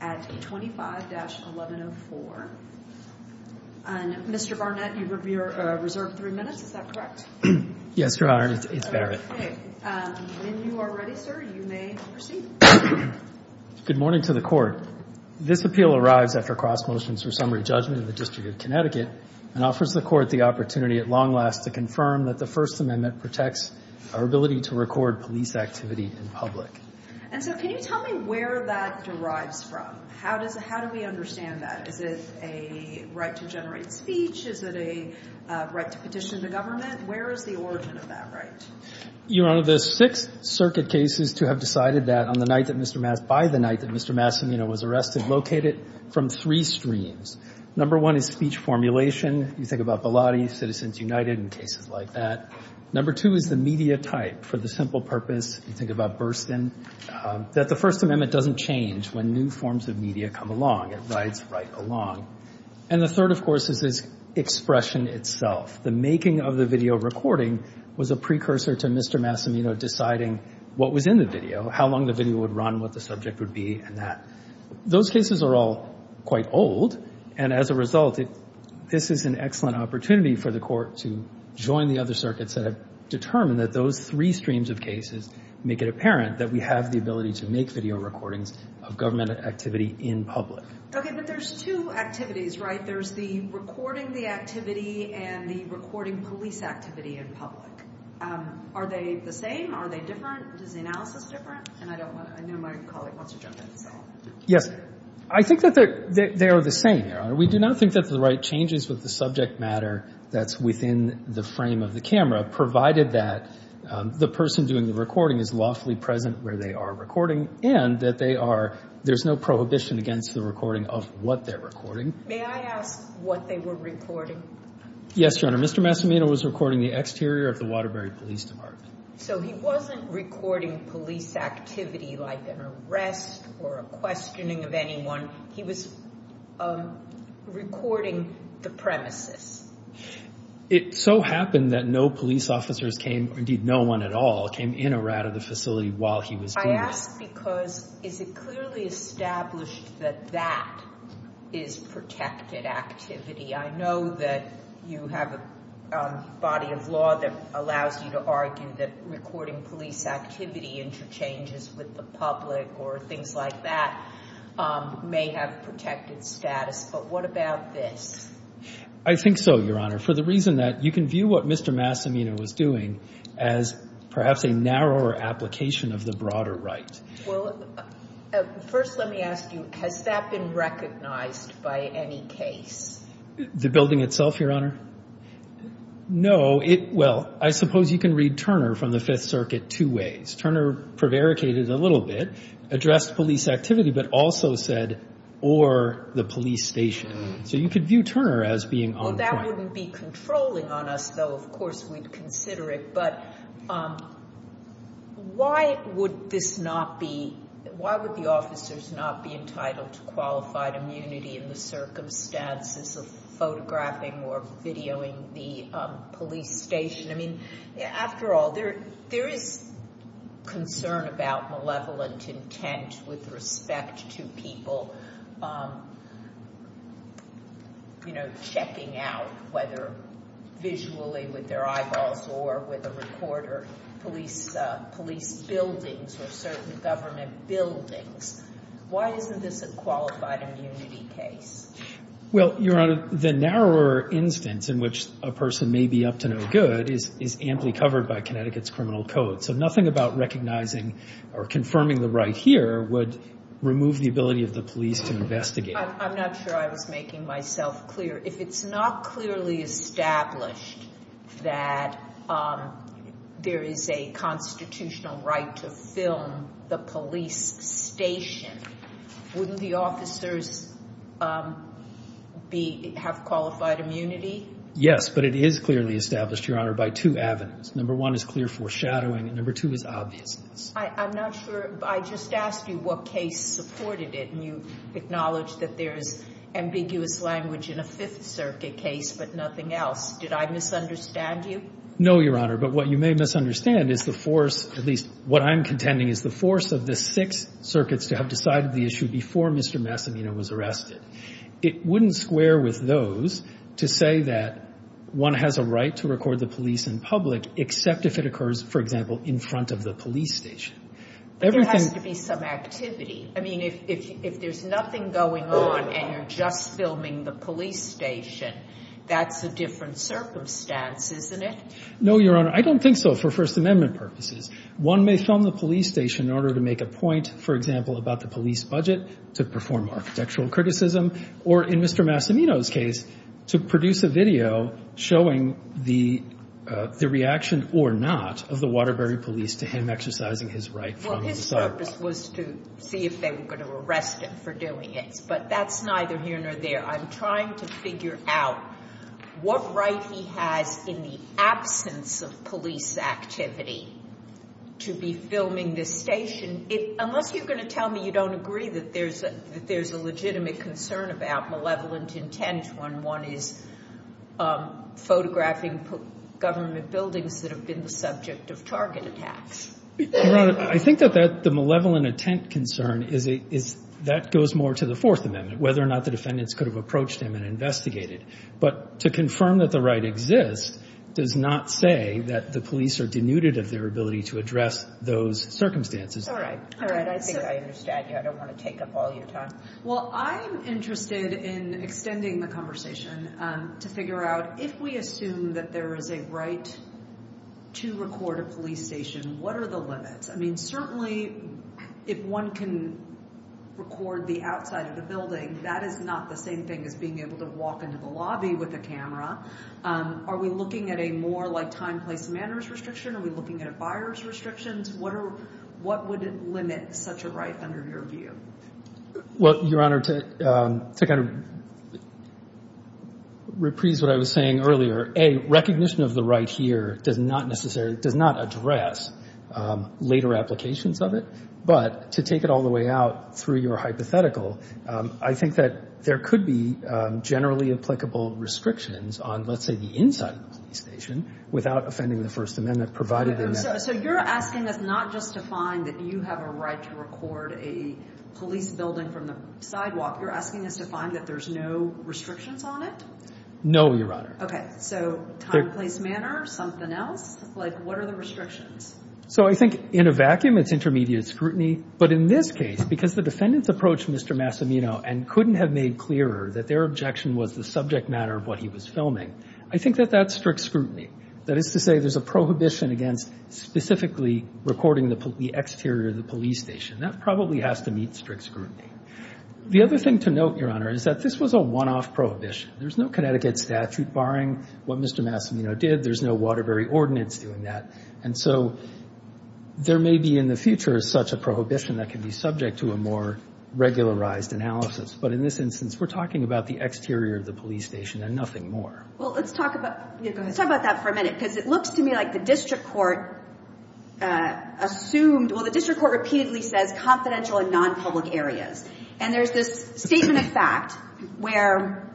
at 25-1104. Mr. Barnett, you are reserved three minutes, is that correct? Yes, Your Honor, it's Barrett. When you are ready, sir, you may proceed. Good morning to the Court. This appeal arrives after cross motions for summary judgment in the District of Connecticut and offers the Court the opportunity at long last to confirm that the First Amendment protects our ability to record police activity in public. And so can you tell me where that derives from? How do we understand that? Is it a right to generate speech? Is it a right to petition the government? Where is the origin of that right? Your Honor, there are six circuit cases to have decided that by the night that Mr. Massimino was arrested, located from three streams. Number one is speech formulation. You think about Bilotti, Citizens United, and cases like that. Number two is the media type. For the simple purpose, you think about Burstyn, that the First Amendment doesn't change when new forms of media come along. It rides right along. And the third, of course, is expression itself. The making of the video recording was a precursor to Mr. Massimino deciding what was in the video, how long the video would run, what the subject would be, and that. Those cases are all quite old, and as a result, this is an excellent opportunity for the Court to join the other circuits that have determined that those three streams of cases make it apparent that we have the ability to make video recordings of government activity in public. Okay, but there's two activities, right? There's the recording the activity and the recording police activity in public. Are they the same? Are they different? Is the analysis different? And I know my colleague wants to jump in. Yes, I think that they are the same, Your Honor. We do not think that the right changes with the subject matter that's within the frame of the camera, provided that the person doing the recording is lawfully present where they are recording and that there's no prohibition against the recording of what they're recording. May I ask what they were recording? Yes, Your Honor. Mr. Massimino was recording the exterior of the Waterbury Police Department. So he wasn't recording police activity like an arrest or a questioning of anyone. He was recording the premises. It so happened that no police officers came, or indeed no one at all, came in or out of the facility while he was doing this. I ask because is it clearly established that that is protected activity? I know that you have a body of law that allows you to argue that recording police activity interchanges with the public or things like that may have protected status, but what about this? I think so, Your Honor, for the reason that you can view what Mr. Massimino was doing as perhaps a narrower application of the broader right. Well, first let me ask you, has that been recognized by any case? The building itself, Your Honor? No. Well, I suppose you can read Turner from the Fifth Circuit two ways. Turner prevaricated a little bit, addressed police activity, but also said, or the police station. So you could view Turner as being on. Well, that wouldn't be controlling on us, though. Of course we'd consider it, but why would the officers not be entitled to qualified immunity in the circumstances of photographing or videoing the police station? I mean, after all, there is concern about malevolent intent with respect to people, you know, looking out, whether visually with their eyeballs or with a recorder, police buildings or certain government buildings. Why isn't this a qualified immunity case? Well, Your Honor, the narrower instance in which a person may be up to no good is amply covered by Connecticut's criminal code. So nothing about recognizing or confirming the right here would remove the ability of the police to investigate. I'm not sure I was making myself clear. If it's not clearly established that there is a constitutional right to film the police station, wouldn't the officers have qualified immunity? Yes, but it is clearly established, Your Honor, by two avenues. Number one is clear foreshadowing, and number two is obviousness. I'm not sure. I just asked you what case supported it, and you acknowledged that there is ambiguous language in a Fifth Circuit case but nothing else. Did I misunderstand you? No, Your Honor, but what you may misunderstand is the force, at least what I'm contending, is the force of the Sixth Circuits to have decided the issue before Mr. Massimino was arrested. It wouldn't square with those to say that one has a right to record the police in public except if it occurs, for example, in front of the police station. But there has to be some activity. I mean, if there's nothing going on and you're just filming the police station, that's a different circumstance, isn't it? No, Your Honor. I don't think so for First Amendment purposes. One may film the police station in order to make a point, for example, about the police budget, to perform architectural criticism, or in Mr. Massimino's case, to produce a video showing the reaction or not of the Waterbury police to him exercising his right from the start. Well, his purpose was to see if they were going to arrest him for doing it. But that's neither here nor there. I'm trying to figure out what right he has in the absence of police activity to be filming this station unless you're going to tell me you don't agree that there's a legitimate concern about malevolent intent when one is photographing government buildings that have been the subject of target attacks. Your Honor, I think that the malevolent intent concern, that goes more to the Fourth Amendment, whether or not the defendants could have approached him and investigated. But to confirm that the right exists does not say that the police are denuded of their ability to address those circumstances. All right. All right. I think I understand you. I don't want to take up all your time. Well, I'm interested in extending the conversation to figure out, if we assume that there is a right to record a police station, what are the limits? I mean, certainly if one can record the outside of the building, that is not the same thing as being able to walk into the lobby with a camera. Are we looking at a more like time, place, manners restriction? Are we looking at a buyer's restrictions? What would limit such a right under your view? Well, Your Honor, to kind of reprise what I was saying earlier, A, recognition of the right here does not necessarily address later applications of it. But to take it all the way out through your hypothetical, I think that there could be generally applicable restrictions on, let's say, the inside of the police station without offending the First Amendment provided in that. So you're asking us not just to find that you have a right to record a police building from the sidewalk. You're asking us to find that there's no restrictions on it? No, Your Honor. Okay. So time, place, manner, something else? Like, what are the restrictions? So I think in a vacuum, it's intermediate scrutiny. But in this case, because the defendants approached Mr. Massimino and couldn't have made clearer that their objection was the subject matter of what he was filming, I think that that's strict scrutiny. That is to say there's a prohibition against specifically recording the exterior of the police station. That probably has to meet strict scrutiny. The other thing to note, Your Honor, is that this was a one-off prohibition. There's no Connecticut statute barring what Mr. Massimino did. There's no Waterbury Ordinance doing that. And so there may be in the future such a prohibition that can be subject to a more regularized analysis. But in this instance, we're talking about the exterior of the police station and nothing more. Well, let's talk about that for a minute because it looks to me like the district court assumed, well, the district court repeatedly says confidential and nonpublic areas. And there's this statement of fact where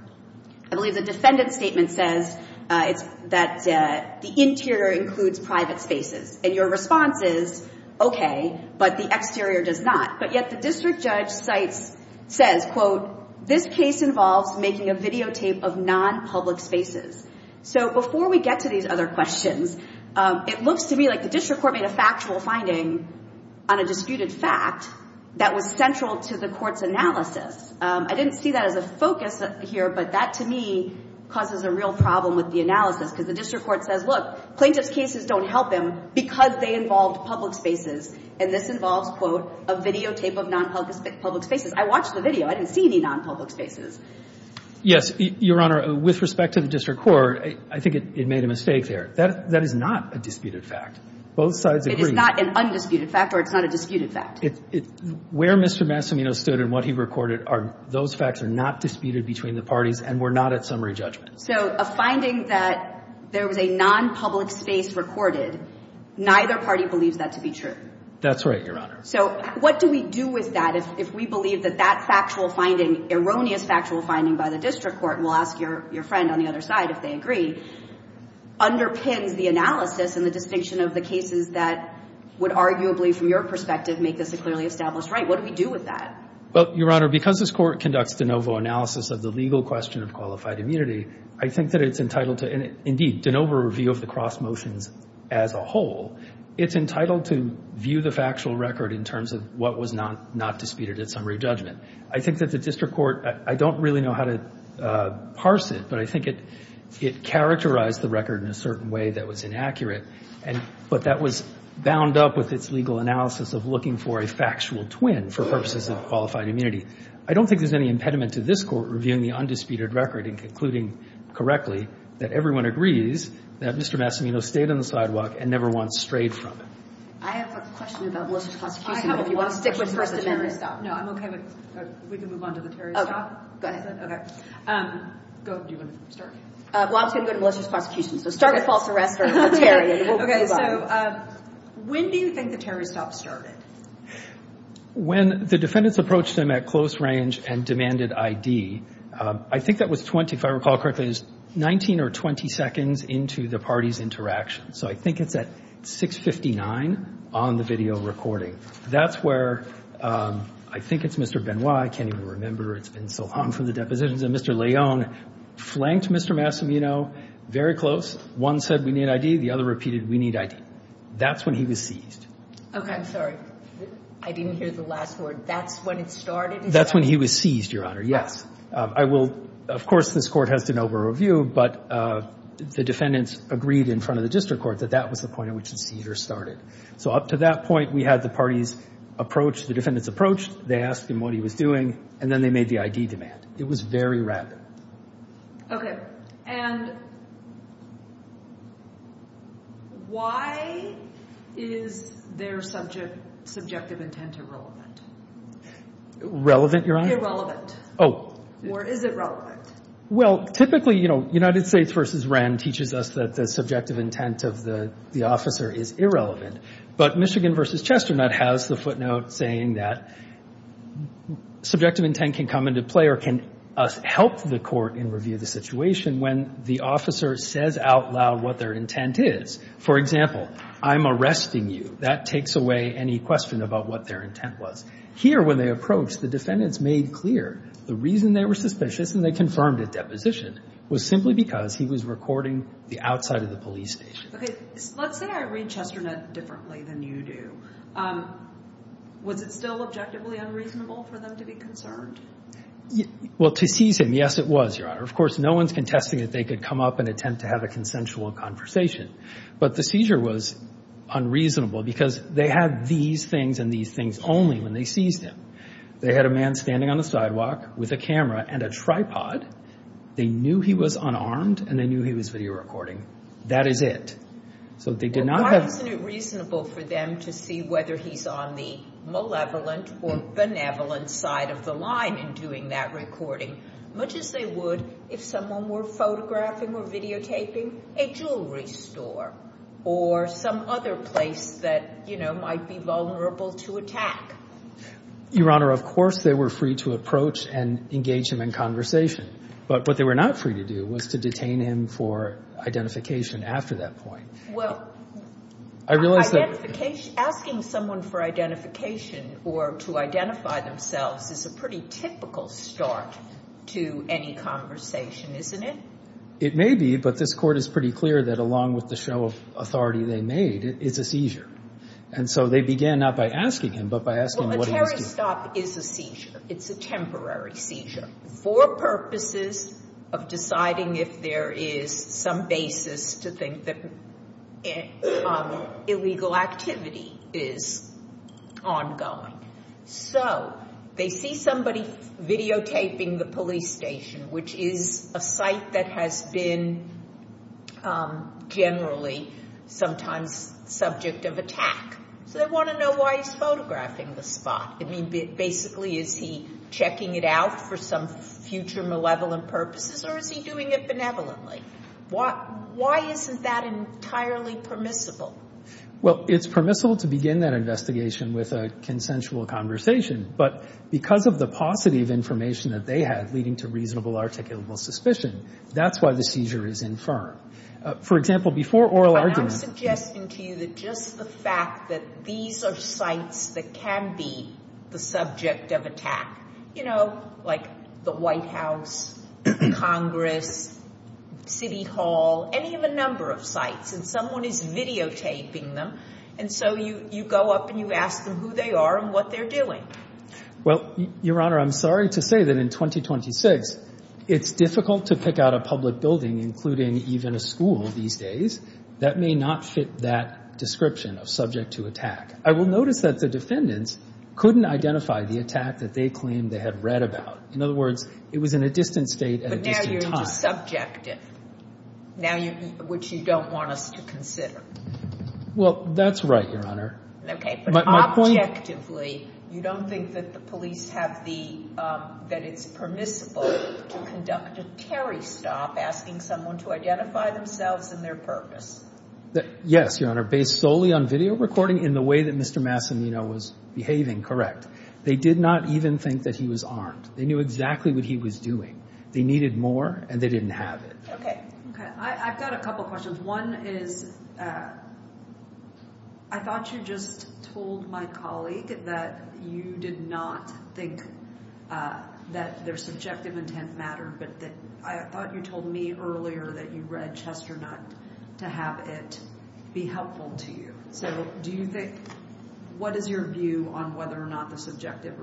I believe the defendant's statement says that the interior includes private spaces. And your response is, okay, but the exterior does not. But yet the district judge says, quote, this case involves making a videotape of nonpublic spaces. So before we get to these other questions, it looks to me like the district court made a factual finding on a disputed fact that was central to the court's analysis. I didn't see that as a focus here, but that to me causes a real problem with the analysis because the district court says, look, plaintiff's cases don't help him because they involved public spaces. And this involves, quote, a videotape of nonpublic spaces. I watched the video. I didn't see any nonpublic spaces. Yes. Your Honor, with respect to the district court, I think it made a mistake there. That is not a disputed fact. Both sides agree. It is not an undisputed fact or it's not a disputed fact. Where Mr. Massimino stood and what he recorded, those facts are not disputed between the parties and were not at summary judgment. So a finding that there was a nonpublic space recorded, neither party believes that to be true. That's right, Your Honor. So what do we do with that if we believe that that factual finding, erroneous factual finding by the district court, and we'll ask your friend on the other side if they agree, underpins the analysis and the distinction of the cases that would arguably, from your perspective, make this a clearly established right? What do we do with that? Well, Your Honor, because this Court conducts de novo analysis of the legal question of qualified immunity, I think that it's entitled to, indeed, de novo review of the cross motions as a whole. It's entitled to view the factual record in terms of what was not disputed at summary judgment. I think that the district court, I don't really know how to parse it, but I think it characterized the record in a certain way that was inaccurate, but that was bound up with its legal analysis of looking for a factual twin for purposes of qualified immunity. I don't think there's any impediment to this Court reviewing the undisputed record and concluding correctly that everyone agrees that Mr. Massimino stayed on the sidewalk and never once strayed from it. I have a question about malicious prosecution. If you want to stick with first amendment. No, I'm okay. We can move on to the Terry stop. Go ahead. Go. Do you want to start? Well, I was going to go to malicious prosecution. So start with false arrest for Terry and we'll move on. Okay. So when do you think the Terry stop started? When the defendants approached him at close range and demanded ID. I think that was 20, if I recall correctly, 19 or 20 seconds into the party's interaction. So I think it's at 6.59 on the video recording. That's where I think it's Mr. Benoit. I can't even remember. It's been so long from the depositions. And Mr. Leon flanked Mr. Massimino very close. One said we need ID. The other repeated we need ID. That's when he was seized. Okay. I'm sorry. I didn't hear the last word. That's when it started? That's when he was seized, Your Honor. Yes. I will, of course, this Court has to know for review, but the defendants agreed in front of the district court that that was the point at which the seizure started. So up to that point, we had the parties approach, the defendants approached, they asked him what he was doing, and then they made the ID demand. It was very rapid. Okay. And why is their subjective intent irrelevant? Relevant, Your Honor? Irrelevant. Oh. Or is it relevant? Well, typically, you know, United States v. Wren teaches us that the subjective intent of the officer is irrelevant. But Michigan v. Chesternut has the footnote saying that subjective intent can come into play or can help the court in review the situation when the officer says out loud what their intent is. For example, I'm arresting you. That takes away any question about what their intent was. Here, when they approached, the defendants made clear the reason they were suspicious and they confirmed a deposition was simply because he was recording the outside of the police station. Okay. Let's say I read Chesternut differently than you do. Was it still objectively unreasonable for them to be concerned? Well, to seize him, yes, it was, Your Honor. Of course, no one's contesting that they could come up and attempt to have a consensual conversation. But the seizure was unreasonable because they had these things and these things only when they seized him. They had a man standing on the sidewalk with a camera and a tripod. They knew he was unarmed and they knew he was video recording. That is it. So they did not have to. Well, why isn't it reasonable for them to see whether he's on the malevolent or benevolent side of the line in doing that recording, much as they would if someone were photographing or videotaping a jewelry store or some other place that, you know, might be vulnerable to attack? Your Honor, of course they were free to approach and engage him in conversation. But what they were not free to do was to detain him for identification after that point. Well, asking someone for identification or to identify themselves is a pretty typical start to any conversation, isn't it? It may be, but this Court is pretty clear that along with the show of authority they made, it's a seizure. And so they began not by asking him, but by asking what he was doing. Well, a terrorist stop is a seizure. It's a temporary seizure. For purposes of deciding if there is some basis to think that illegal activity is ongoing. So they see somebody videotaping the police station, which is a site that has been generally sometimes subject of attack. So they want to know why he's photographing the spot. I mean, basically is he checking it out for some future malevolent purposes or is he doing it benevolently? Why isn't that entirely permissible? Well, it's permissible to begin that investigation with a consensual conversation. But because of the paucity of information that they had leading to reasonable articulable suspicion, that's why the seizure is infirm. For example, before oral argument. I'm suggesting to you that just the fact that these are sites that can be the subject of attack. You know, like the White House, Congress, City Hall, any of a number of sites. And someone is videotaping them. And so you go up and you ask them who they are and what they're doing. Well, Your Honor, I'm sorry to say that in 2026 it's difficult to pick out a public building, including even a school these days. That may not fit that description of subject to attack. I will notice that the defendants couldn't identify the attack that they claimed they had read about. In other words, it was in a distant state at a distant time. But now you're just subjective, which you don't want us to consider. Well, that's right, Your Honor. Objectively, you don't think that the police have the – that it's permissible to conduct a Terry stop asking someone to identify themselves and their purpose? Yes, Your Honor. Based solely on video recording in the way that Mr. Massimino was behaving, correct. They did not even think that he was armed. They knew exactly what he was doing. They needed more and they didn't have it. Okay. I've got a couple questions. One is I thought you just told my colleague that you did not think that their subjective intent mattered. But I thought you told me earlier that you read Chesternut to have it be helpful to you. So do you think – what is your view on whether or not the subjective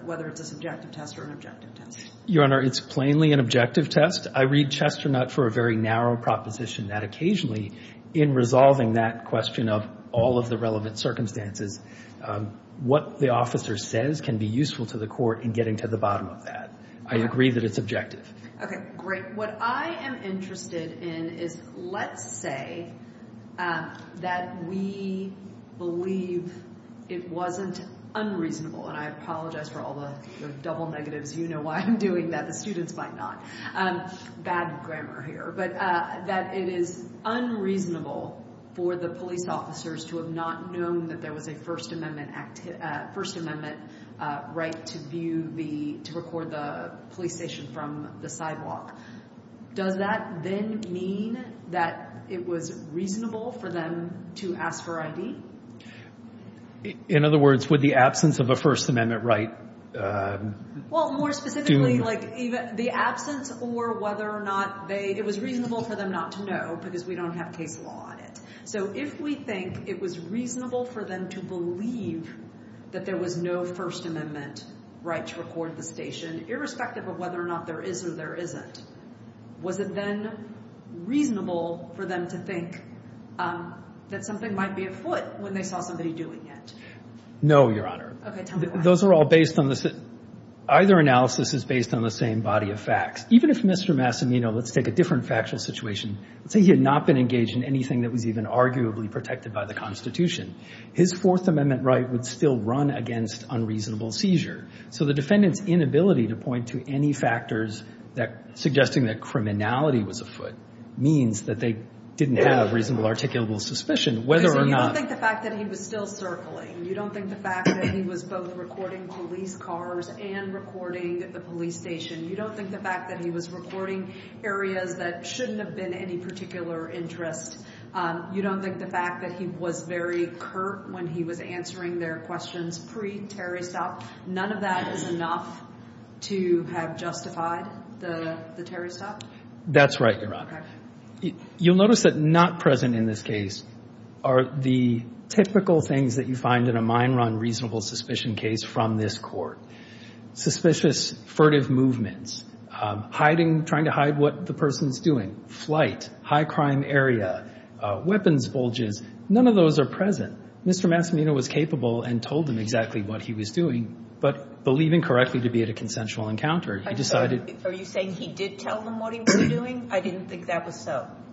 – whether it's a subjective test or an objective test? Your Honor, it's plainly an objective test. I read Chesternut for a very narrow proposition that occasionally in resolving that question of all of the relevant circumstances, what the officer says can be useful to the court in getting to the bottom of that. I agree that it's objective. Okay, great. What I am interested in is let's say that we believe it wasn't unreasonable. And I apologize for all the double negatives. You know why I'm doing that. Students might not. Bad grammar here. But that it is unreasonable for the police officers to have not known that there was a First Amendment right to view the – to record the police station from the sidewalk. Does that then mean that it was reasonable for them to ask for ID? In other words, would the absence of a First Amendment right – Well, more specifically, like the absence or whether or not they – it was reasonable for them not to know because we don't have case law on it. So if we think it was reasonable for them to believe that there was no First Amendment right to record the station, irrespective of whether or not there is or there isn't, was it then reasonable for them to think that something might be afoot when they saw somebody doing it? No, Your Honor. Okay, tell me why. Those are all based on the – either analysis is based on the same body of facts. Even if Mr. Massimino – let's take a different factual situation. Let's say he had not been engaged in anything that was even arguably protected by the Constitution. His Fourth Amendment right would still run against unreasonable seizure. So the defendant's inability to point to any factors that – suggesting that criminality was afoot means that they didn't have reasonable articulable suspicion whether or not – You don't think the fact that he was both recording police cars and recording the police station, you don't think the fact that he was recording areas that shouldn't have been any particular interest, you don't think the fact that he was very curt when he was answering their questions pre-terrorist op, none of that is enough to have justified the terrorist op? That's right, Your Honor. Okay. You'll notice that not present in this case are the typical things that you find in a mine run reasonable suspicion case from this Court. Suspicious furtive movements, hiding – trying to hide what the person's doing, flight, high crime area, weapons bulges, none of those are present. Mr. Massimino was capable and told them exactly what he was doing, but believing correctly to be at a consensual encounter, he decided –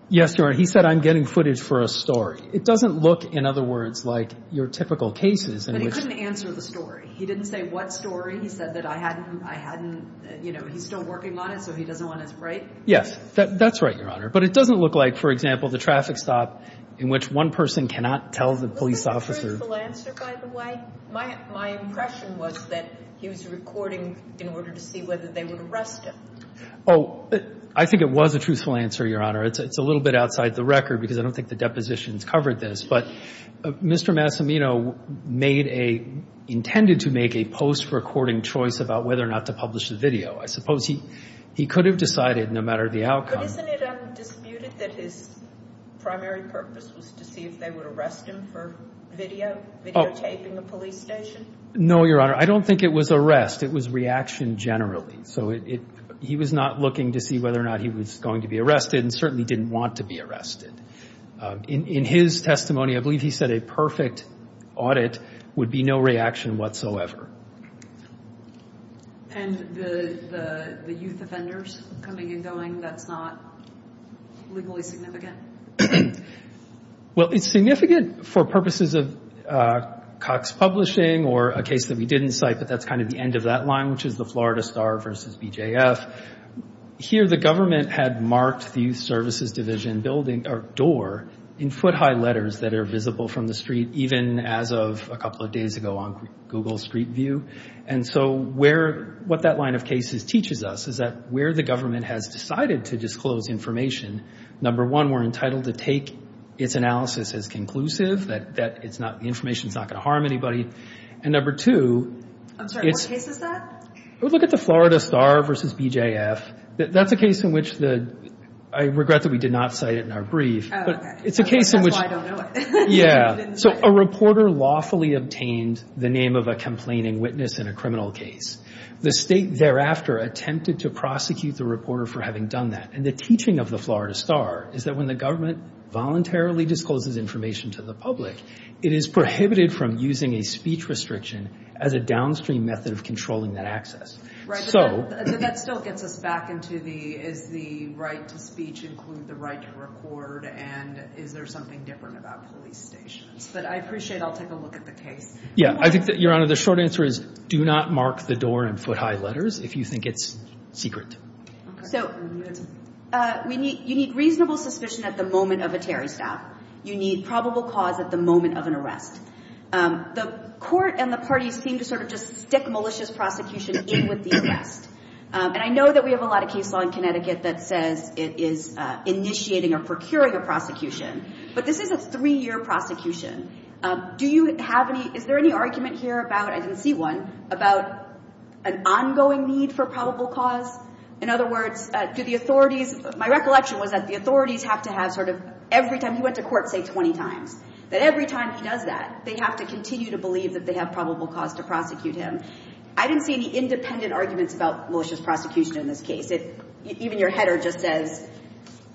Yes, Your Honor. He said, I'm getting footage for a story. It doesn't look, in other words, like your typical cases in which – But he couldn't answer the story. He didn't say what story. He said that I hadn't – you know, he's still working on it, so he doesn't want it, right? Yes. That's right, Your Honor. But it doesn't look like, for example, the traffic stop in which one person cannot tell the police officer – Was that a truthful answer, by the way? My impression was that he was recording in order to see whether they would arrest him. Oh, I think it was a truthful answer, Your Honor. It's a little bit outside the record because I don't think the depositions covered this, but Mr. Massimino intended to make a post-recording choice about whether or not to publish the video. I suppose he could have decided no matter the outcome. But isn't it undisputed that his primary purpose was to see if they would arrest him for video, videotaping a police station? No, Your Honor. I don't think it was arrest. It was reaction generally. So he was not looking to see whether or not he was going to be arrested and certainly didn't want to be arrested. In his testimony, I believe he said a perfect audit would be no reaction whatsoever. And the youth offenders coming and going, that's not legally significant? Well, it's significant for purposes of Cox Publishing or a case that we didn't cite, but that's kind of the end of that line, which is the Florida Star versus BJF. Here the government had marked the youth services division door in foot-high letters that are visible from the street even as of a couple of days ago on Google Street View. And so what that line of cases teaches us is that where the government has decided to disclose information, number one, we're entitled to take its analysis as conclusive, that the information is not going to harm anybody. And number two, it's— I'm sorry, what case is that? Look at the Florida Star versus BJF. That's a case in which the—I regret that we did not cite it in our brief. Oh, okay. That's why I don't know it. Yeah. So a reporter lawfully obtained the name of a complaining witness in a criminal case. The state thereafter attempted to prosecute the reporter for having done that. And the teaching of the Florida Star is that when the government voluntarily discloses information to the public, it is prohibited from using a speech restriction as a downstream method of controlling that access. Right, but that still gets us back into the—is the right to speech include the right to record? And is there something different about police stations? But I appreciate I'll take a look at the case. Yeah. Your Honor, the short answer is do not mark the door in foot-high letters if you think it's secret. So you need reasonable suspicion at the moment of a Terry staff. You need probable cause at the moment of an arrest. The court and the parties seem to sort of just stick malicious prosecution in with the arrest. And I know that we have a lot of case law in Connecticut that says it is initiating or procuring a prosecution. But this is a three-year prosecution. Do you have any—is there any argument here about—I didn't see one—about an ongoing need for probable cause? In other words, do the authorities—my recollection was that the authorities have to have sort of every time he went to court, say, 20 times. That every time he does that, they have to continue to believe that they have probable cause to prosecute him. I didn't see any independent arguments about malicious prosecution in this case. Even your header just says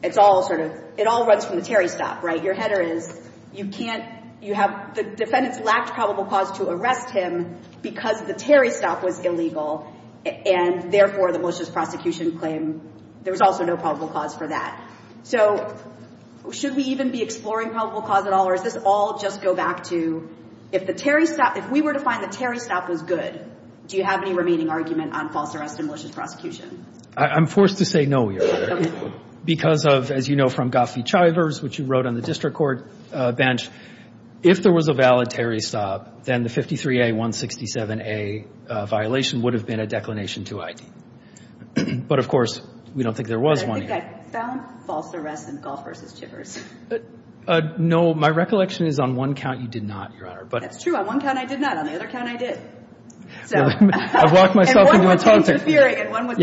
it's all sort of—it all runs from the Terry staff, right? Your header is you can't—you have—the defendants lacked probable cause to arrest him because the Terry staff was illegal, and therefore the malicious prosecution claim there was also no probable cause for that. So should we even be exploring probable cause at all, or does this all just go back to if the Terry staff— if we were to find the Terry staff was good, do you have any remaining argument on false arrest and malicious prosecution? I'm forced to say no, Your Honor. Okay. Because of, as you know from Goffey-Chivers, which you wrote on the district court bench, if there was a valid Terry staff, then the 53A-167A violation would have been a declination to ID. But, of course, we don't think there was one yet. But I think I found false arrest in Goffey-Chivers. No. My recollection is on one count you did not, Your Honor. That's true. On one count I did not. On the other count I did. I've locked myself into a toxic— And one was interfering, and one was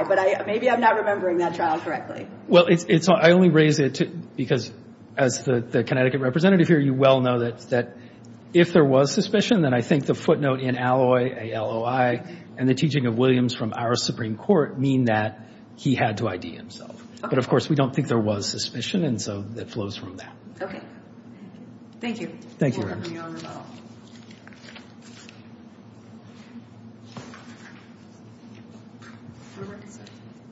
DUI. But maybe I'm not remembering that trial correctly. Well, it's—I only raise it because, as the Connecticut representative here, you well know that if there was suspicion, then I think the footnote in Alloy, A-L-O-I, and the teaching of Williams from our Supreme Court mean that he had to ID himself. Okay. But, of course, we don't think there was suspicion, and so that flows from that. Okay. Thank you. Thank you, Your Honor. You're welcome, Your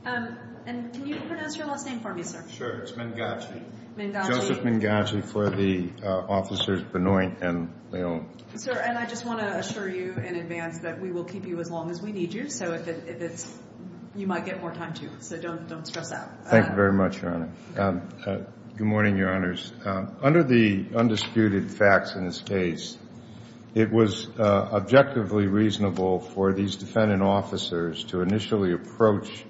Honor. And can you pronounce your last name for me, sir? It's Mangachi. Mangachi. Joseph Mangachi for the officers Benoit and Leon. Sir, and I just want to assure you in advance that we will keep you as long as we need you. So if it's—you might get more time, too. So don't stress out. Thank you very much, Your Honor. Good morning, Your Honors. Under the undisputed facts in this case, it was objectively reasonable for these defendant officers to initially approach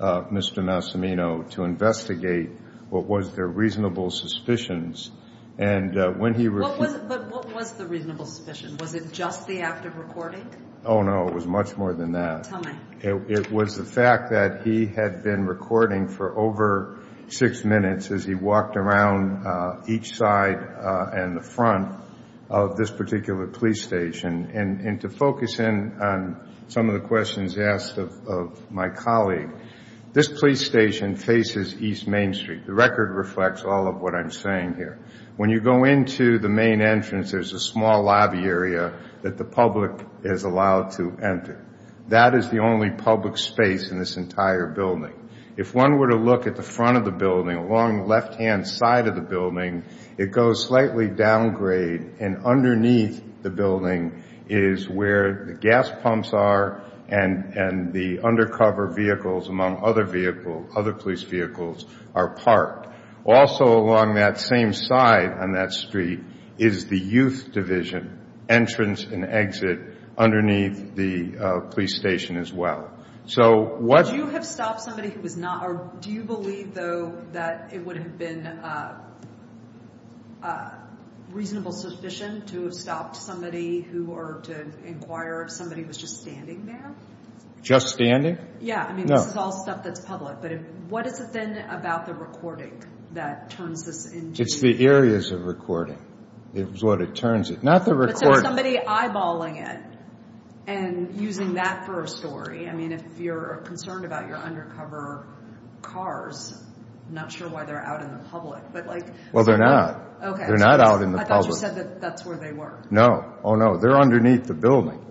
Mr. Massimino to investigate what was their reasonable suspicions, and when he— But what was the reasonable suspicion? Was it just the act of recording? Oh, no. It was much more than that. Tell me. It was the fact that he had been recording for over six minutes as he walked around each side and the front of this particular police station. And to focus in on some of the questions asked of my colleague, this police station faces East Main Street. The record reflects all of what I'm saying here. When you go into the main entrance, there's a small lobby area that the public is allowed to enter. That is the only public space in this entire building. If one were to look at the front of the building, along the left-hand side of the building, it goes slightly downgrade, and underneath the building is where the gas pumps are and the undercover vehicles, among other police vehicles, are parked. Also along that same side on that street is the youth division entrance and exit underneath the police station as well. So what— Would you have stopped somebody who was not—or do you believe, though, that it would have been reasonable suspicion to have stopped somebody who—or to inquire if somebody was just standing there? Just standing? Yeah. No. I mean, this is all stuff that's public. But what is it then about the recording that turns this into— It's the areas of recording is what it turns it. Not the recording. But somebody eyeballing it and using that for a story. I mean, if you're concerned about your undercover cars, I'm not sure why they're out in the public. But like— Well, they're not. Okay. They're not out in the public. I thought you said that that's where they were. No. Oh, no. They're underneath the building.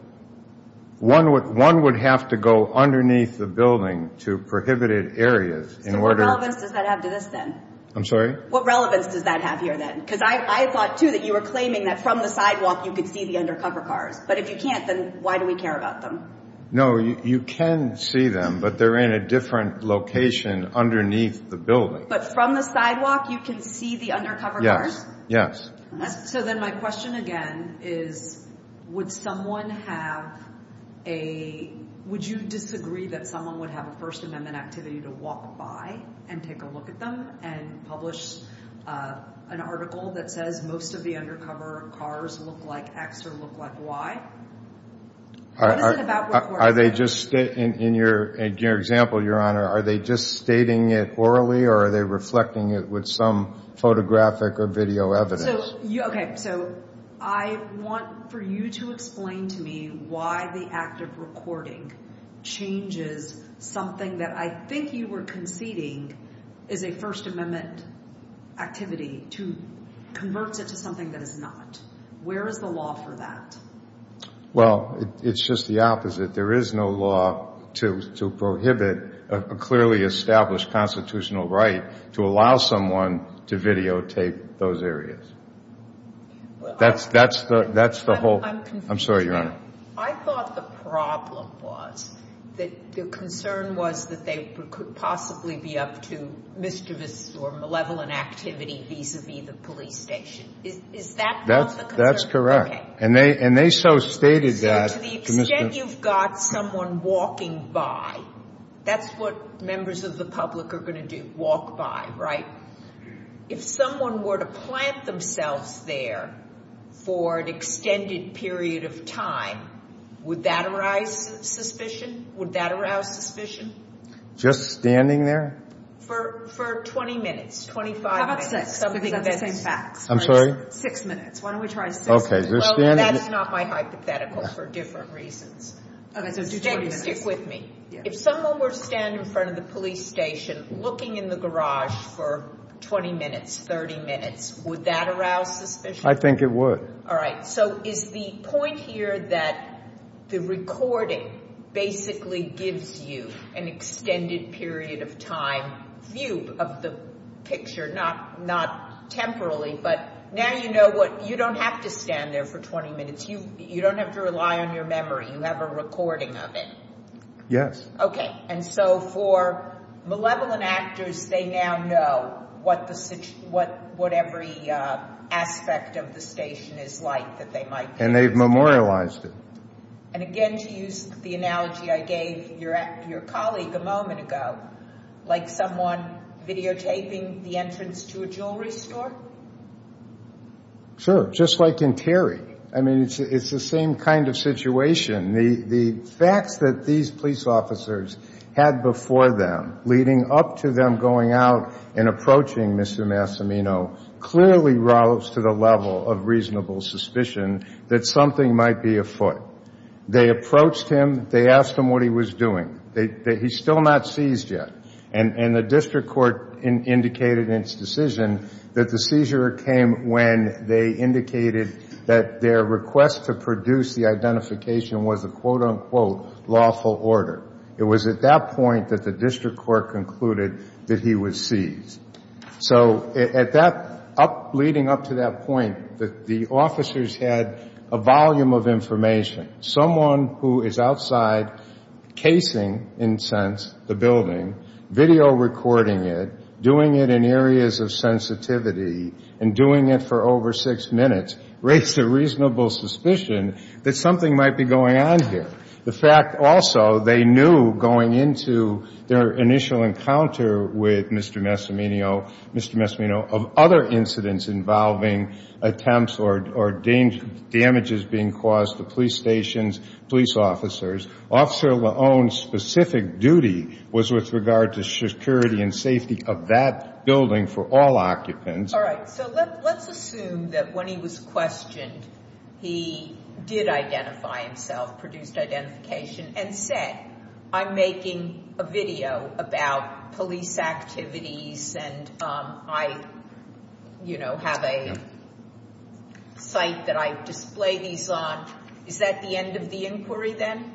One would have to go underneath the building to prohibited areas in order— So what relevance does that have to this, then? I'm sorry? What relevance does that have here, then? Because I thought, too, that you were claiming that from the sidewalk you could see the undercover cars. But if you can't, then why do we care about them? No, you can see them, but they're in a different location underneath the building. But from the sidewalk you can see the undercover cars? Yes. So then my question, again, is would someone have a— would you disagree that someone would have a First Amendment activity to walk by and take a look at them and publish an article that says most of the undercover cars look like X or look like Y? What is it about— Are they just—in your example, Your Honor, are they just stating it orally or are they reflecting it with some photographic or video evidence? Okay. So I want for you to explain to me why the act of recording changes something that I think you were conceding is a First Amendment activity to convert it to something that is not. Where is the law for that? Well, it's just the opposite. There is no law to prohibit a clearly established constitutional right to allow someone to videotape those areas. That's the whole—I'm sorry, Your Honor. I thought the problem was that the concern was that they could possibly be up to mischievous or malevolent activity vis-a-vis the police station. Is that not the concern? That's correct. And they so stated that— To the extent you've got someone walking by, that's what members of the public are going to do, walk by, right? If someone were to plant themselves there for an extended period of time, would that arouse suspicion? Would that arouse suspicion? Just standing there? For 20 minutes, 25 minutes. How about six? Six minutes. I'm sorry? Six minutes. Why don't we try six? Okay. That's not my hypothetical for different reasons. Stick with me. If someone were to stand in front of the police station looking in the garage for 20 minutes, 30 minutes, would that arouse suspicion? I think it would. All right. So is the point here that the recording basically gives you an extended period of time view of the picture? Not temporally, but now you know what—you don't have to stand there for 20 minutes. You don't have to rely on your memory. You have a recording of it. Yes. Okay. And so for malevolent actors, they now know what every aspect of the station is like that they might be— And they've memorialized it. And again, to use the analogy I gave your colleague a moment ago, like someone videotaping the entrance to a jewelry store? Sure. Just like in Terry. I mean, it's the same kind of situation. The facts that these police officers had before them, leading up to them going out and approaching Mr. Massimino, clearly rose to the level of reasonable suspicion that something might be afoot. They approached him. They asked him what he was doing. He's still not seized yet. And the district court indicated in its decision that the seizure came when they indicated that their request to produce the identification was a quote-unquote lawful order. It was at that point that the district court concluded that he was seized. So at that—leading up to that point, the officers had a volume of information. Someone who is outside casing, in a sense, the building, video recording it, doing it in areas of sensitivity, and doing it for over six minutes raised a reasonable suspicion that something might be going on here. The fact also, they knew going into their initial encounter with Mr. Massimino, of other incidents involving attempts or damages being caused to police stations, police officers, Officer Leone's specific duty was with regard to security and safety of that building for all occupants. All right. So let's assume that when he was questioned, he did identify himself, produced identification, and said, I'm making a video about police activities, and I, you know, have a site that I display these on. Is that the end of the inquiry then?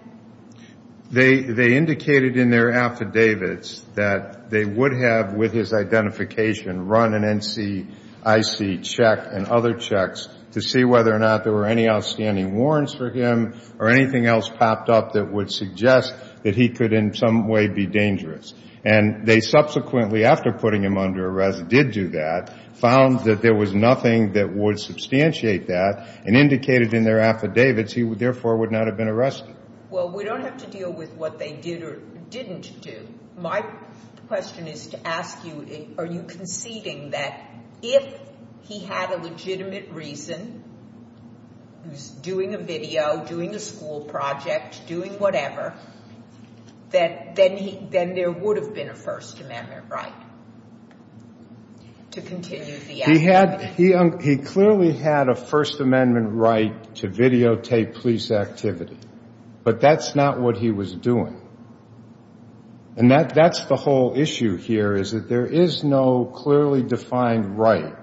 They indicated in their affidavits that they would have, with his identification, run an NCIC check and other checks to see whether or not there were any outstanding warrants for him or anything else popped up that would suggest that he could in some way be dangerous. And they subsequently, after putting him under arrest, did do that, found that there was nothing that would substantiate that and indicated in their affidavits he therefore would not have been arrested. Well, we don't have to deal with what they did or didn't do. My question is to ask you, are you conceding that if he had a legitimate reason, he was doing a video, doing a school project, doing whatever, then there would have been a First Amendment right to continue the activity? He clearly had a First Amendment right to videotape police activity, but that's not what he was doing. And that's the whole issue here, is that there is no clearly defined right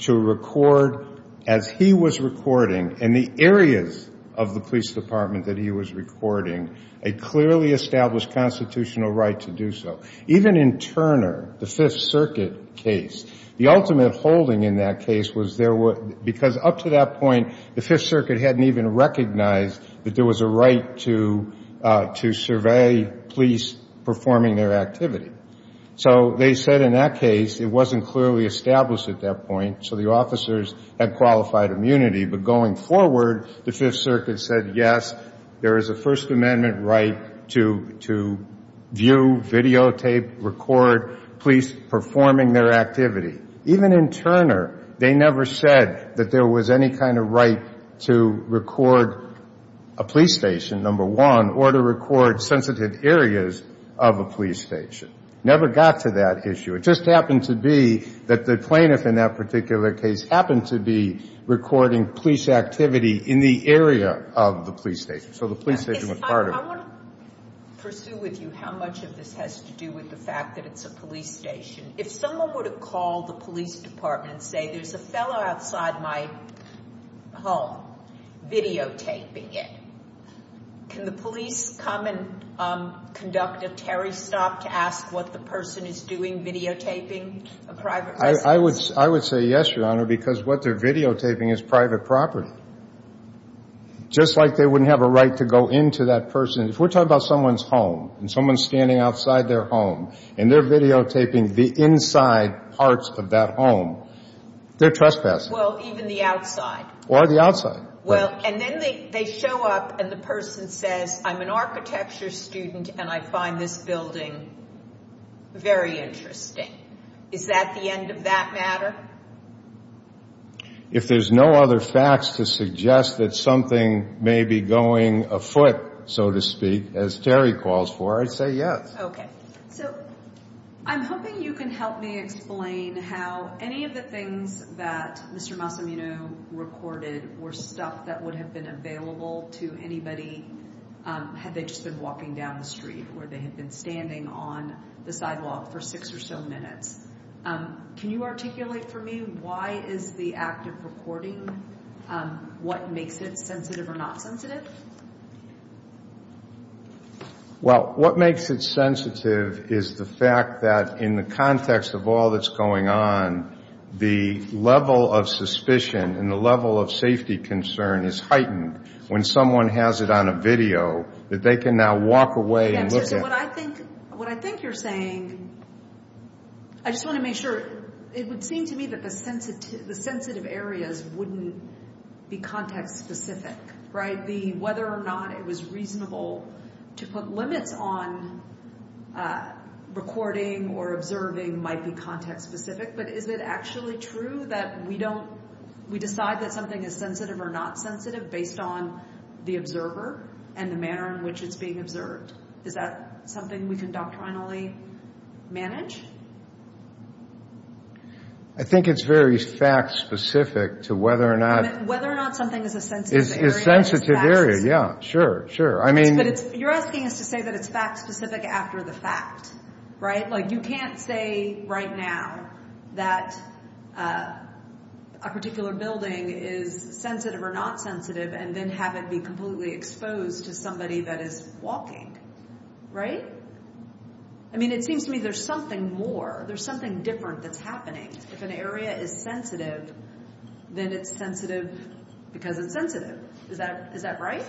to record, as he was recording in the areas of the police department that he was recording, a clearly established constitutional right to do so. Even in Turner, the Fifth Circuit case, the ultimate holding in that case was there were, because up to that point, the Fifth Circuit hadn't even recognized that there was a right to survey police performing their activity. So they said in that case, it wasn't clearly established at that point, so the officers had qualified immunity. But going forward, the Fifth Circuit said, yes, there is a First Amendment right to view, videotape, record police performing their activity. Even in Turner, they never said that there was any kind of right to record a police station, number one, or to record sensitive areas of a police station. Never got to that issue. It just happened to be that the plaintiff in that particular case happened to be recording police activity in the area of the police station. So the police station was part of it. I want to pursue with you how much of this has to do with the fact that it's a police station. If someone were to call the police department and say, there's a fellow outside my home videotaping it, can the police come and conduct a Terry stop to ask what the person is doing videotaping a private residence? I would say yes, Your Honor, because what they're videotaping is private property. Just like they wouldn't have a right to go into that person. If we're talking about someone's home and someone's standing outside their home and they're videotaping the inside parts of that home, they're trespassing. Well, even the outside. Or the outside. Well, and then they show up and the person says, I'm an architecture student and I find this building very interesting. Is that the end of that matter? If there's no other facts to suggest that something may be going afoot, so to speak, as Terry calls for, I'd say yes. Okay. So I'm hoping you can help me explain how any of the things that Mr. Massimino recorded were stuff that would have been available to anybody had they just been walking down the street or they had been standing on the sidewalk for six or so minutes. Can you articulate for me why is the act of recording, what makes it sensitive or not sensitive? Well, what makes it sensitive is the fact that in the context of all that's going on, the level of suspicion and the level of safety concern is heightened when someone has it on a video that they can now walk away and look at. Okay. So what I think you're saying, I just want to make sure, it would seem to me that the sensitive areas wouldn't be context specific, right? Whether or not it was reasonable to put limits on recording or observing might be context specific, but is it actually true that we decide that something is sensitive or not sensitive based on the observer and the manner in which it's being observed? Is that something we can doctrinally manage? I think it's very fact specific to whether or not... Whether or not something is a sensitive area... Is a sensitive area, yeah, sure, sure. But you're asking us to say that it's fact specific after the fact, right? Like you can't say right now that a particular building is sensitive or not sensitive and then have it be completely exposed to somebody that is walking, right? I mean, it seems to me there's something more. There's something different that's happening. If an area is sensitive, then it's sensitive because it's sensitive. Is that right?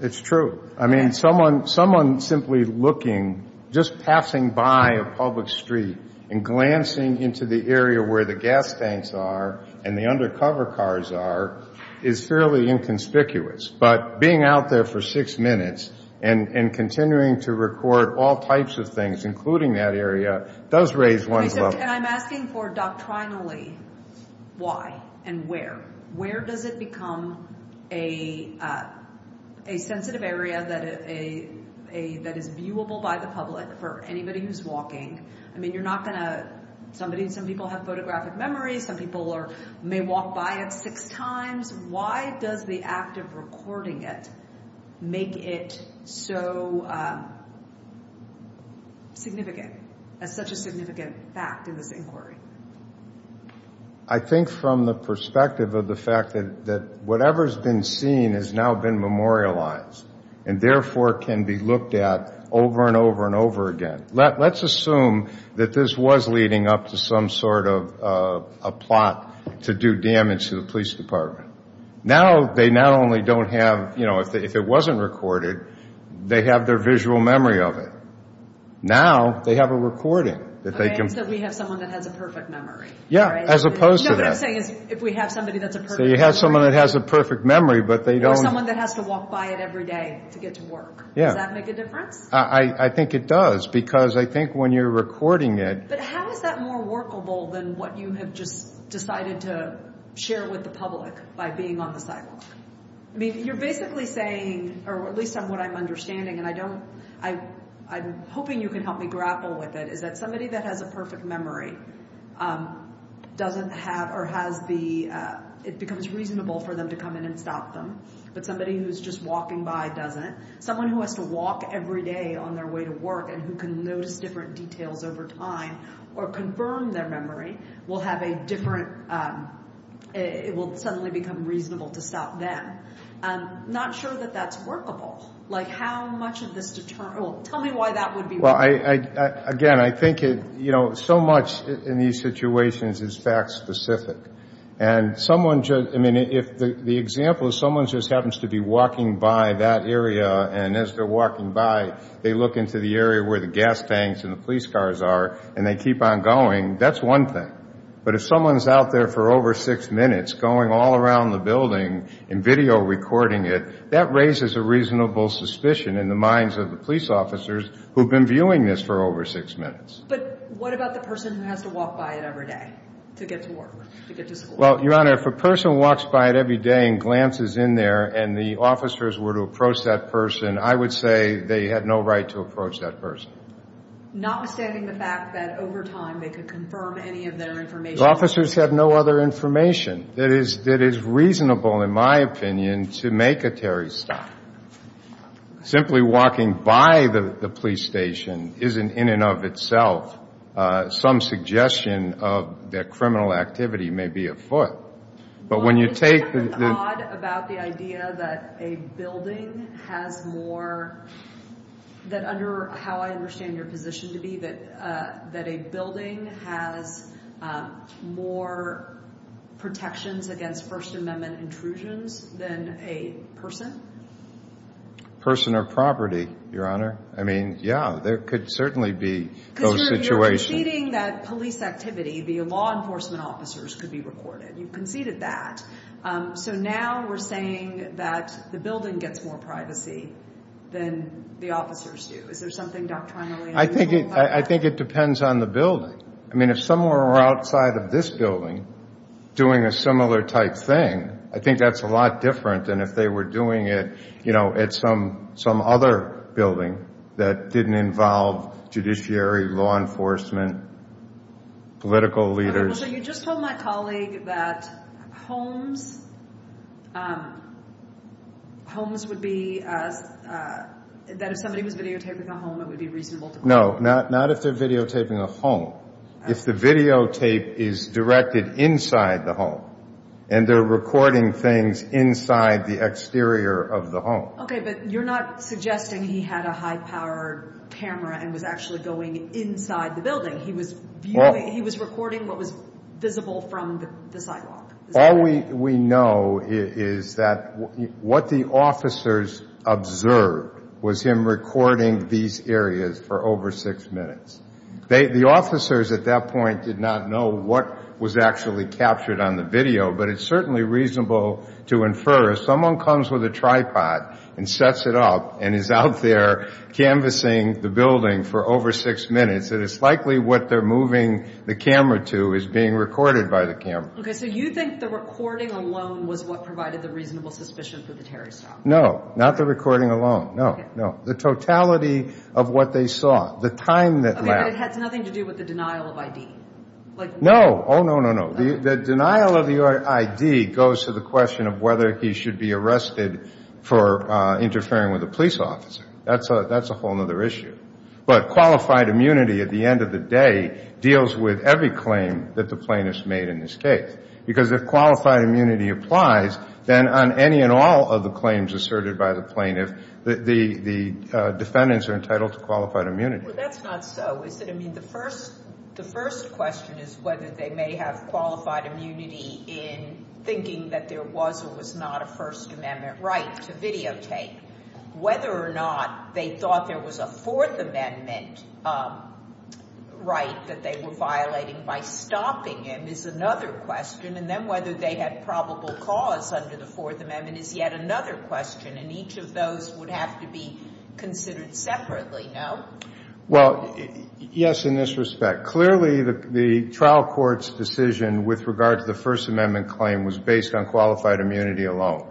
It's true. I mean, someone simply looking, just passing by a public street and glancing into the area where the gas tanks are and the undercover cars are is fairly inconspicuous. But being out there for six minutes and continuing to record all types of things, including that area, does raise one's level. And I'm asking for doctrinally why and where. Where does it become a sensitive area that is viewable by the public for anybody who's walking? I mean, you're not going to—some people have photographic memories. Some people may walk by it six times. Why does the act of recording it make it so significant, as such a significant fact in this inquiry? I think from the perspective of the fact that whatever's been seen has now been memorialized and therefore can be looked at over and over and over again. Let's assume that this was leading up to some sort of a plot to do damage to the police department. Now they not only don't have—if it wasn't recorded, they have their visual memory of it. Now they have a recording that they can— So we have someone that has a perfect memory. Yeah, as opposed to that. No, what I'm saying is if we have somebody that's a perfect— So you have someone that has a perfect memory, but they don't— Or someone that has to walk by it every day to get to work. Yeah. Does that make a difference? I think it does, because I think when you're recording it— But how is that more workable than what you have just decided to share with the public by being on the sidewalk? I mean, you're basically saying—or at least what I'm understanding, and I don't— I'm hoping you can help me grapple with it, is that somebody that has a perfect memory doesn't have— or has the—it becomes reasonable for them to come in and stop them, but somebody who's just walking by doesn't. Someone who has to walk every day on their way to work and who can notice different details over time or confirm their memory will have a different—it will suddenly become reasonable to stop them. I'm not sure that that's workable. Like, how much of this—well, tell me why that would be workable. Well, again, I think it—you know, so much in these situations is fact-specific. And someone just—I mean, if the example is someone just happens to be walking by that area, and as they're walking by, they look into the area where the gas tanks and the police cars are, and they keep on going, that's one thing. But if someone's out there for over six minutes going all around the building and video recording it, that raises a reasonable suspicion in the minds of the police officers who've been viewing this for over six minutes. But what about the person who has to walk by it every day to get to work, to get to school? Well, Your Honor, if a person walks by it every day and glances in there and the officers were to approach that person, I would say they had no right to approach that person. Notwithstanding the fact that over time they could confirm any of their information. The officers have no other information that is reasonable, in my opinion, to make a Terry stop. Simply walking by the police station isn't, in and of itself, some suggestion of their criminal activity may be afoot. But when you take the— But isn't there something odd about the idea that a building has more— that under how I understand your position to be, that a building has more protections against First Amendment intrusions than a person? Person or property, Your Honor. I mean, yeah, there could certainly be those situations. Because you're conceding that police activity via law enforcement officers could be recorded. You've conceded that. So now we're saying that the building gets more privacy than the officers do. Is there something doctrinally unreasonable about that? I think it depends on the building. I mean, if someone were outside of this building doing a similar type thing, I think that's a lot different than if they were doing it, you know, at some other building that didn't involve judiciary, law enforcement, political leaders. So you just told my colleague that homes would be—that if somebody was videotaping a home, it would be reasonable to— No, not if they're videotaping a home. If the videotape is directed inside the home, and they're recording things inside the exterior of the home. Okay, but you're not suggesting he had a high-powered camera and was actually going inside the building. He was recording what was visible from the sidewalk. All we know is that what the officers observed was him recording these areas for over six minutes. The officers at that point did not know what was actually captured on the video, but it's certainly reasonable to infer if someone comes with a tripod and sets it up and is out there canvassing the building for over six minutes, that it's likely what they're moving the camera to is being recorded by the camera. Okay, so you think the recording alone was what provided the reasonable suspicion for the terrorist attack. No, not the recording alone. No, no. The totality of what they saw, the time that— Okay, but it has nothing to do with the denial of ID. No. Oh, no, no, no. The denial of your ID goes to the question of whether he should be arrested for interfering with a police officer. That's a whole other issue. But qualified immunity, at the end of the day, deals with every claim that the plaintiff's made in this case. Because if qualified immunity applies, then on any and all of the claims asserted by the plaintiff, the defendants are entitled to qualified immunity. Well, that's not so, is it? I mean, the first question is whether they may have qualified immunity in thinking that there was or was not a First Amendment right to videotape. Whether or not they thought there was a Fourth Amendment right that they were violating by stopping him is another question. And then whether they had probable cause under the Fourth Amendment is yet another question. And each of those would have to be considered separately, no? Well, yes, in this respect. Clearly, the trial court's decision with regard to the First Amendment claim was based on qualified immunity alone.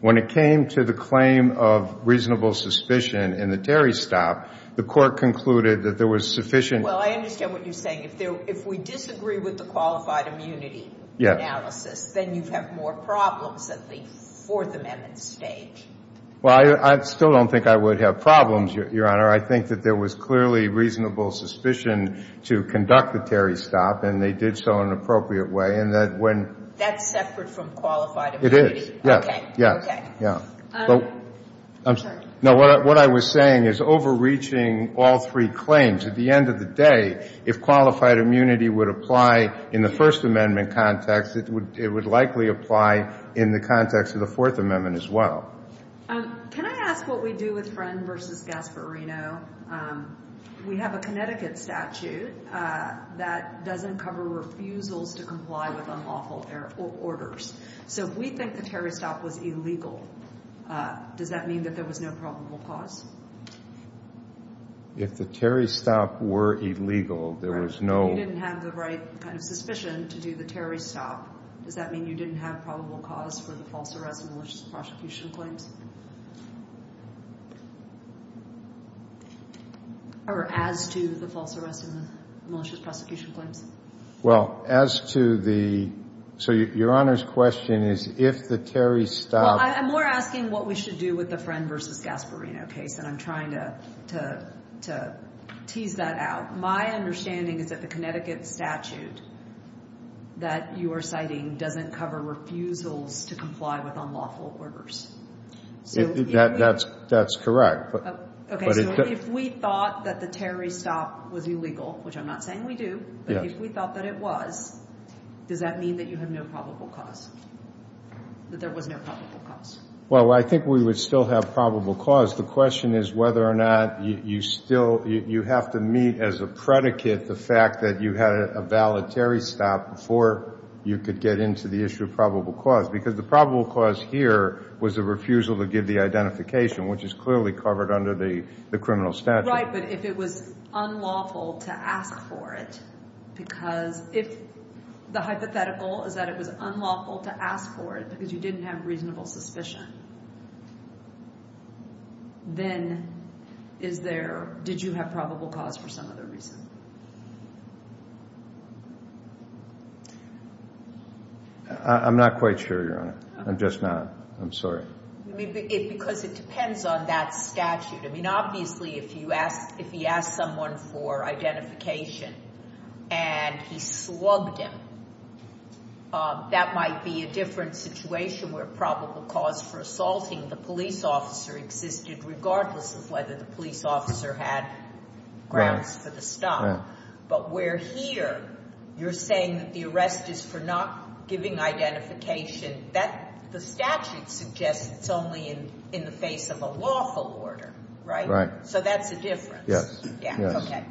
When it came to the claim of reasonable suspicion in the Terry stop, the court concluded that there was sufficient... Well, I understand what you're saying. If we disagree with the qualified immunity analysis, then you have more problems at the Fourth Amendment stage. Well, I still don't think I would have problems, Your Honor. I think that there was clearly reasonable suspicion to conduct the Terry stop, and they did so in an appropriate way. That's separate from qualified immunity? It is. Okay. I'm sorry. No, what I was saying is overreaching all three claims. At the end of the day, if qualified immunity would apply in the First Amendment context, it would likely apply in the context of the Fourth Amendment as well. Can I ask what we do with Friend v. Gasparino? We have a Connecticut statute that doesn't cover refusals to comply with unlawful orders. So if we think the Terry stop was illegal, does that mean that there was no probable cause? If the Terry stop were illegal, there was no... If you didn't have the right kind of suspicion to do the Terry stop, does that mean you didn't have probable cause for the false arrest and malicious prosecution claims? Or as to the false arrest and the malicious prosecution claims? Well, as to the... So Your Honor's question is if the Terry stop... Well, I'm more asking what we should do with the Friend v. Gasparino case, and I'm trying to tease that out. My understanding is that the Connecticut statute that you are citing doesn't cover refusals to comply with unlawful orders. That's correct. Okay, so if we thought that the Terry stop was illegal, which I'm not saying we do, but if we thought that it was, does that mean that you had no probable cause, that there was no probable cause? Well, I think we would still have probable cause. The question is whether or not you still... You have to meet as a predicate the fact that you had a valid Terry stop before you could get into the issue of probable cause, because the probable cause here was a refusal to give the identification, which is clearly covered under the criminal statute. Right, but if it was unlawful to ask for it because... If the hypothetical is that it was unlawful to ask for it because you didn't have reasonable suspicion, then is there... Did you have probable cause for some other reason? I'm not quite sure, Your Honor. I'm just not. I'm sorry. Because it depends on that statute. I mean, obviously, if he asked someone for identification and he slugged him, that might be a different situation where probable cause for assaulting the police officer existed, regardless of whether the police officer had grounds for the stop. But where here you're saying that the arrest is for not giving identification, the statute suggests it's only in the face of a lawful order, right? So that's a difference. Yes. Yeah, okay.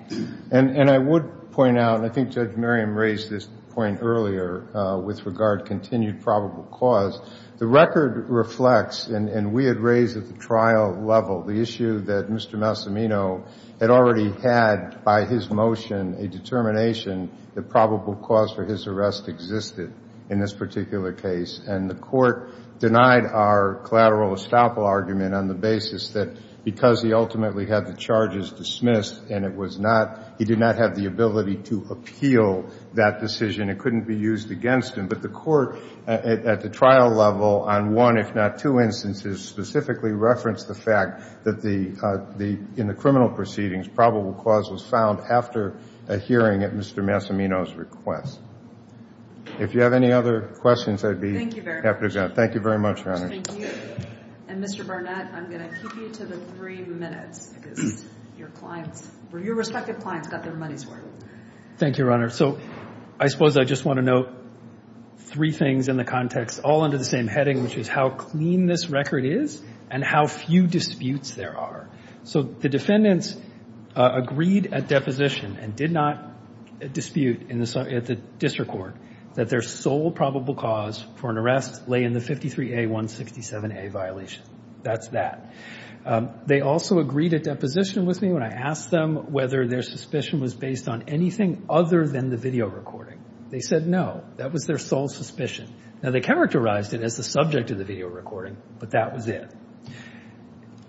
And I would point out, and I think Judge Merriam raised this point earlier with regard to continued probable cause, the record reflects, and we had raised at the trial level, the issue that Mr. Massimino had already had by his motion a determination that probable cause for his arrest existed in this particular case, and the Court denied our collateral estoppel argument on the basis that because he ultimately had the charges dismissed and it was not... He did not have the ability to appeal that decision. It couldn't be used against him. But the Court, at the trial level, on one if not two instances, specifically referenced the fact that in the criminal proceedings, probable cause was found after a hearing at Mr. Massimino's request. If you have any other questions, I'd be happy to... Thank you very much. Thank you very much, Your Honor. Thank you. And Mr. Barnett, I'm going to keep you to the three minutes because your clients, your respective clients got their money's worth. Thank you, Your Honor. So I suppose I just want to note three things in the context, all under the same heading, which is how clean this record is and how few disputes there are. So the defendants agreed at deposition and did not dispute at the district court that their sole probable cause for an arrest lay in the 53A-167A violation. That's that. They also agreed at deposition with me when I asked them whether their suspicion was based on anything other than the video recording. They said no. That was their sole suspicion. Now, they characterized it as the subject of the video recording, but that was it.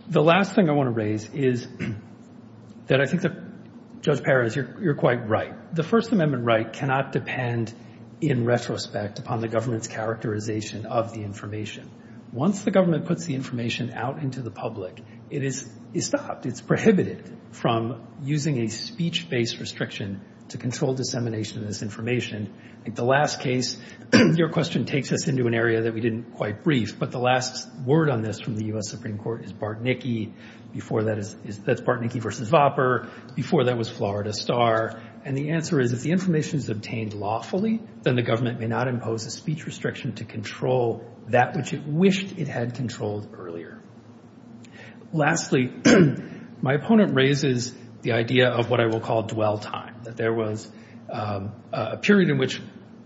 The last thing I want to raise is that I think that, Judge Perez, you're quite right. The First Amendment right cannot depend in retrospect upon the government's characterization of the information. Once the government puts the information out into the public, it is stopped. It's prohibited from using a speech-based restriction to control dissemination of this information. I think the last case, your question takes us into an area that we didn't quite brief, but the last word on this from the U.S. Supreme Court is Bartnicki. That's Bartnicki v. Vopper. Before that was Florida Star. And the answer is if the information is obtained lawfully, then the government may not impose a speech restriction to control that which it wished it had controlled earlier. Lastly, my opponent raises the idea of what I will call dwell time, that there was a period in which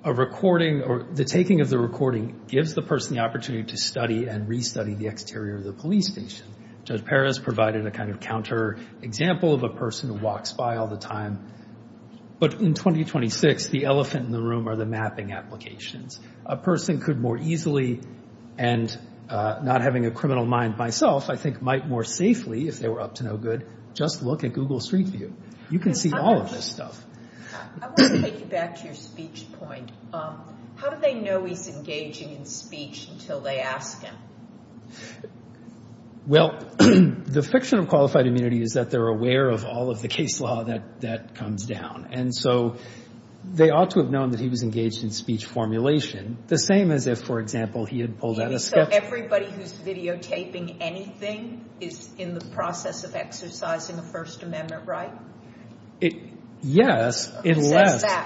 a recording or the taking of the recording gives the person the opportunity to study and restudy the exterior of the police station. Judge Perez provided a kind of counter example of a person who walks by all the time. But in 2026, the elephant in the room are the mapping applications. A person could more easily, and not having a criminal mind myself, I think might more safely, if they were up to no good, just look at Google Street View. You can see all of this stuff. I want to take you back to your speech point. How do they know he's engaging in speech until they ask him? Well, the fiction of qualified immunity is that they're aware of all of the case law that comes down. And so they ought to have known that he was engaged in speech formulation, the same as if, for example, he had pulled out a sketch. So everybody who's videotaping anything is in the process of exercising a First Amendment right? Yes.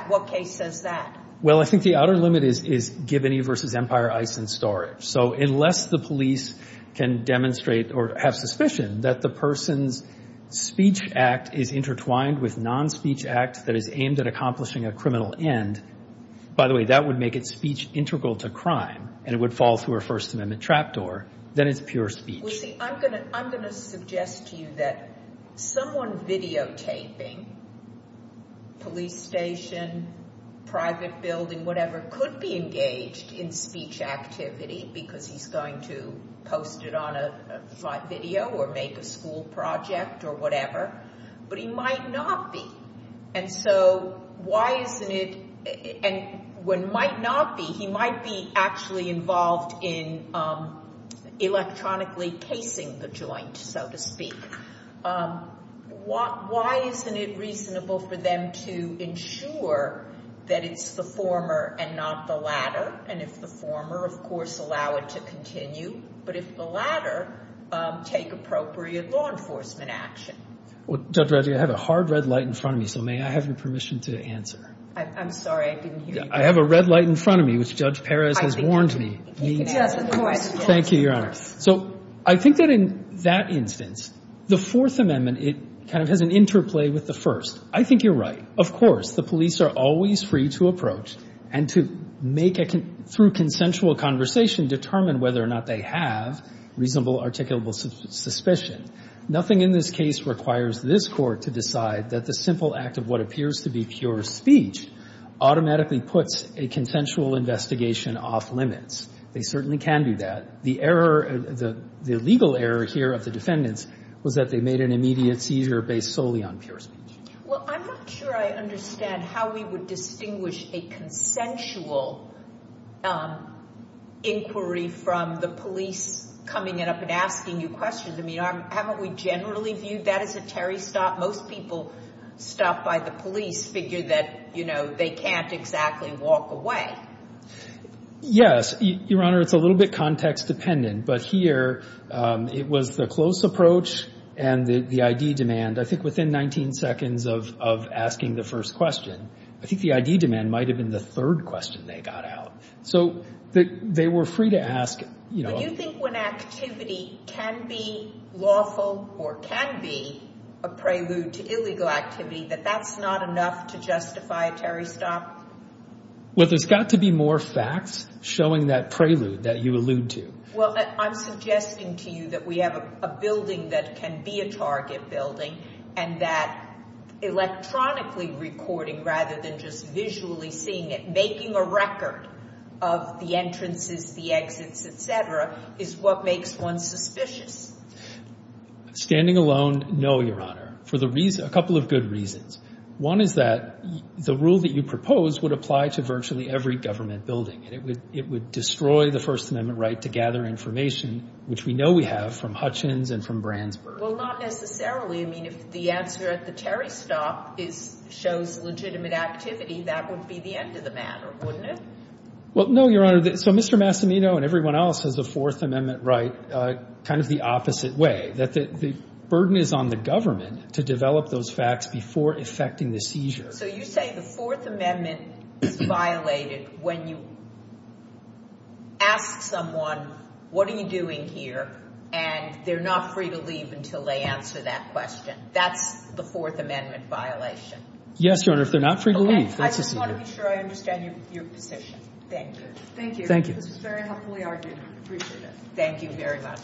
What case says that? Well, I think the outer limit is Gibney v. Empire, Ice, and Storage. So unless the police can demonstrate or have suspicion that the person's speech act is intertwined with non-speech act that is aimed at accomplishing a criminal end, by the way, that would make it speech integral to crime, and it would fall through a First Amendment trap door. Then it's pure speech. Well, see, I'm going to suggest to you that someone videotaping police station, private building, whatever, could be engaged in speech activity because he's going to post it on a video or make a school project or whatever. But he might not be. And so why isn't it – and when might not be, he might be actually involved in electronically casing the joint, so to speak. Why isn't it reasonable for them to ensure that it's the former and not the latter? And if the former, of course, allow it to continue. But if the latter, take appropriate law enforcement action. Well, Judge Radley, I have a hard red light in front of me, so may I have your permission to answer? I'm sorry, I didn't hear you. I have a red light in front of me, which Judge Perez has warned me. He does, of course. Thank you, Your Honor. So I think that in that instance, the Fourth Amendment, it kind of has an interplay with the first. I think you're right. Of course, the police are always free to approach and to make, through consensual conversation, determine whether or not they have reasonable articulable suspicion. Nothing in this case requires this Court to decide that the simple act of what appears to be pure speech automatically puts a consensual investigation off limits. They certainly can do that. The error, the legal error here of the defendants, was that they made an immediate seizure based solely on pure speech. Well, I'm not sure I understand how we would distinguish a consensual inquiry from the police coming up and asking you questions. I mean, haven't we generally viewed that as a Terry stop? Most people stopped by the police figure that, you know, they can't exactly walk away. Yes. Your Honor, it's a little bit context dependent, but here it was the close approach and the ID demand. I think within 19 seconds of asking the first question, I think the ID demand might have been the third question they got out. So they were free to ask, you know. But you think when activity can be lawful or can be a prelude to illegal activity, that that's not enough to justify a Terry stop? Well, there's got to be more facts showing that prelude that you allude to. Well, I'm suggesting to you that we have a building that can be a target building, and that electronically recording rather than just visually seeing it, making a record of the entrances, the exits, et cetera, is what makes one suspicious. Standing alone, no, Your Honor, for a couple of good reasons. One is that the rule that you propose would apply to virtually every government building. It would destroy the First Amendment right to gather information, which we know we have from Hutchins and from Brandsburg. Well, not necessarily. I mean, if the answer at the Terry stop shows legitimate activity, that would be the end of the matter, wouldn't it? Well, no, Your Honor. So Mr. Massimino and everyone else has a Fourth Amendment right kind of the opposite way, that the burden is on the government to develop those facts before effecting the seizure. So you say the Fourth Amendment is violated when you ask someone, what are you doing here? And they're not free to leave until they answer that question. That's the Fourth Amendment violation. Yes, Your Honor, if they're not free to leave. I just want to be sure I understand your position. Thank you. Thank you. This was very helpfully argued. I appreciate it. Thank you very much.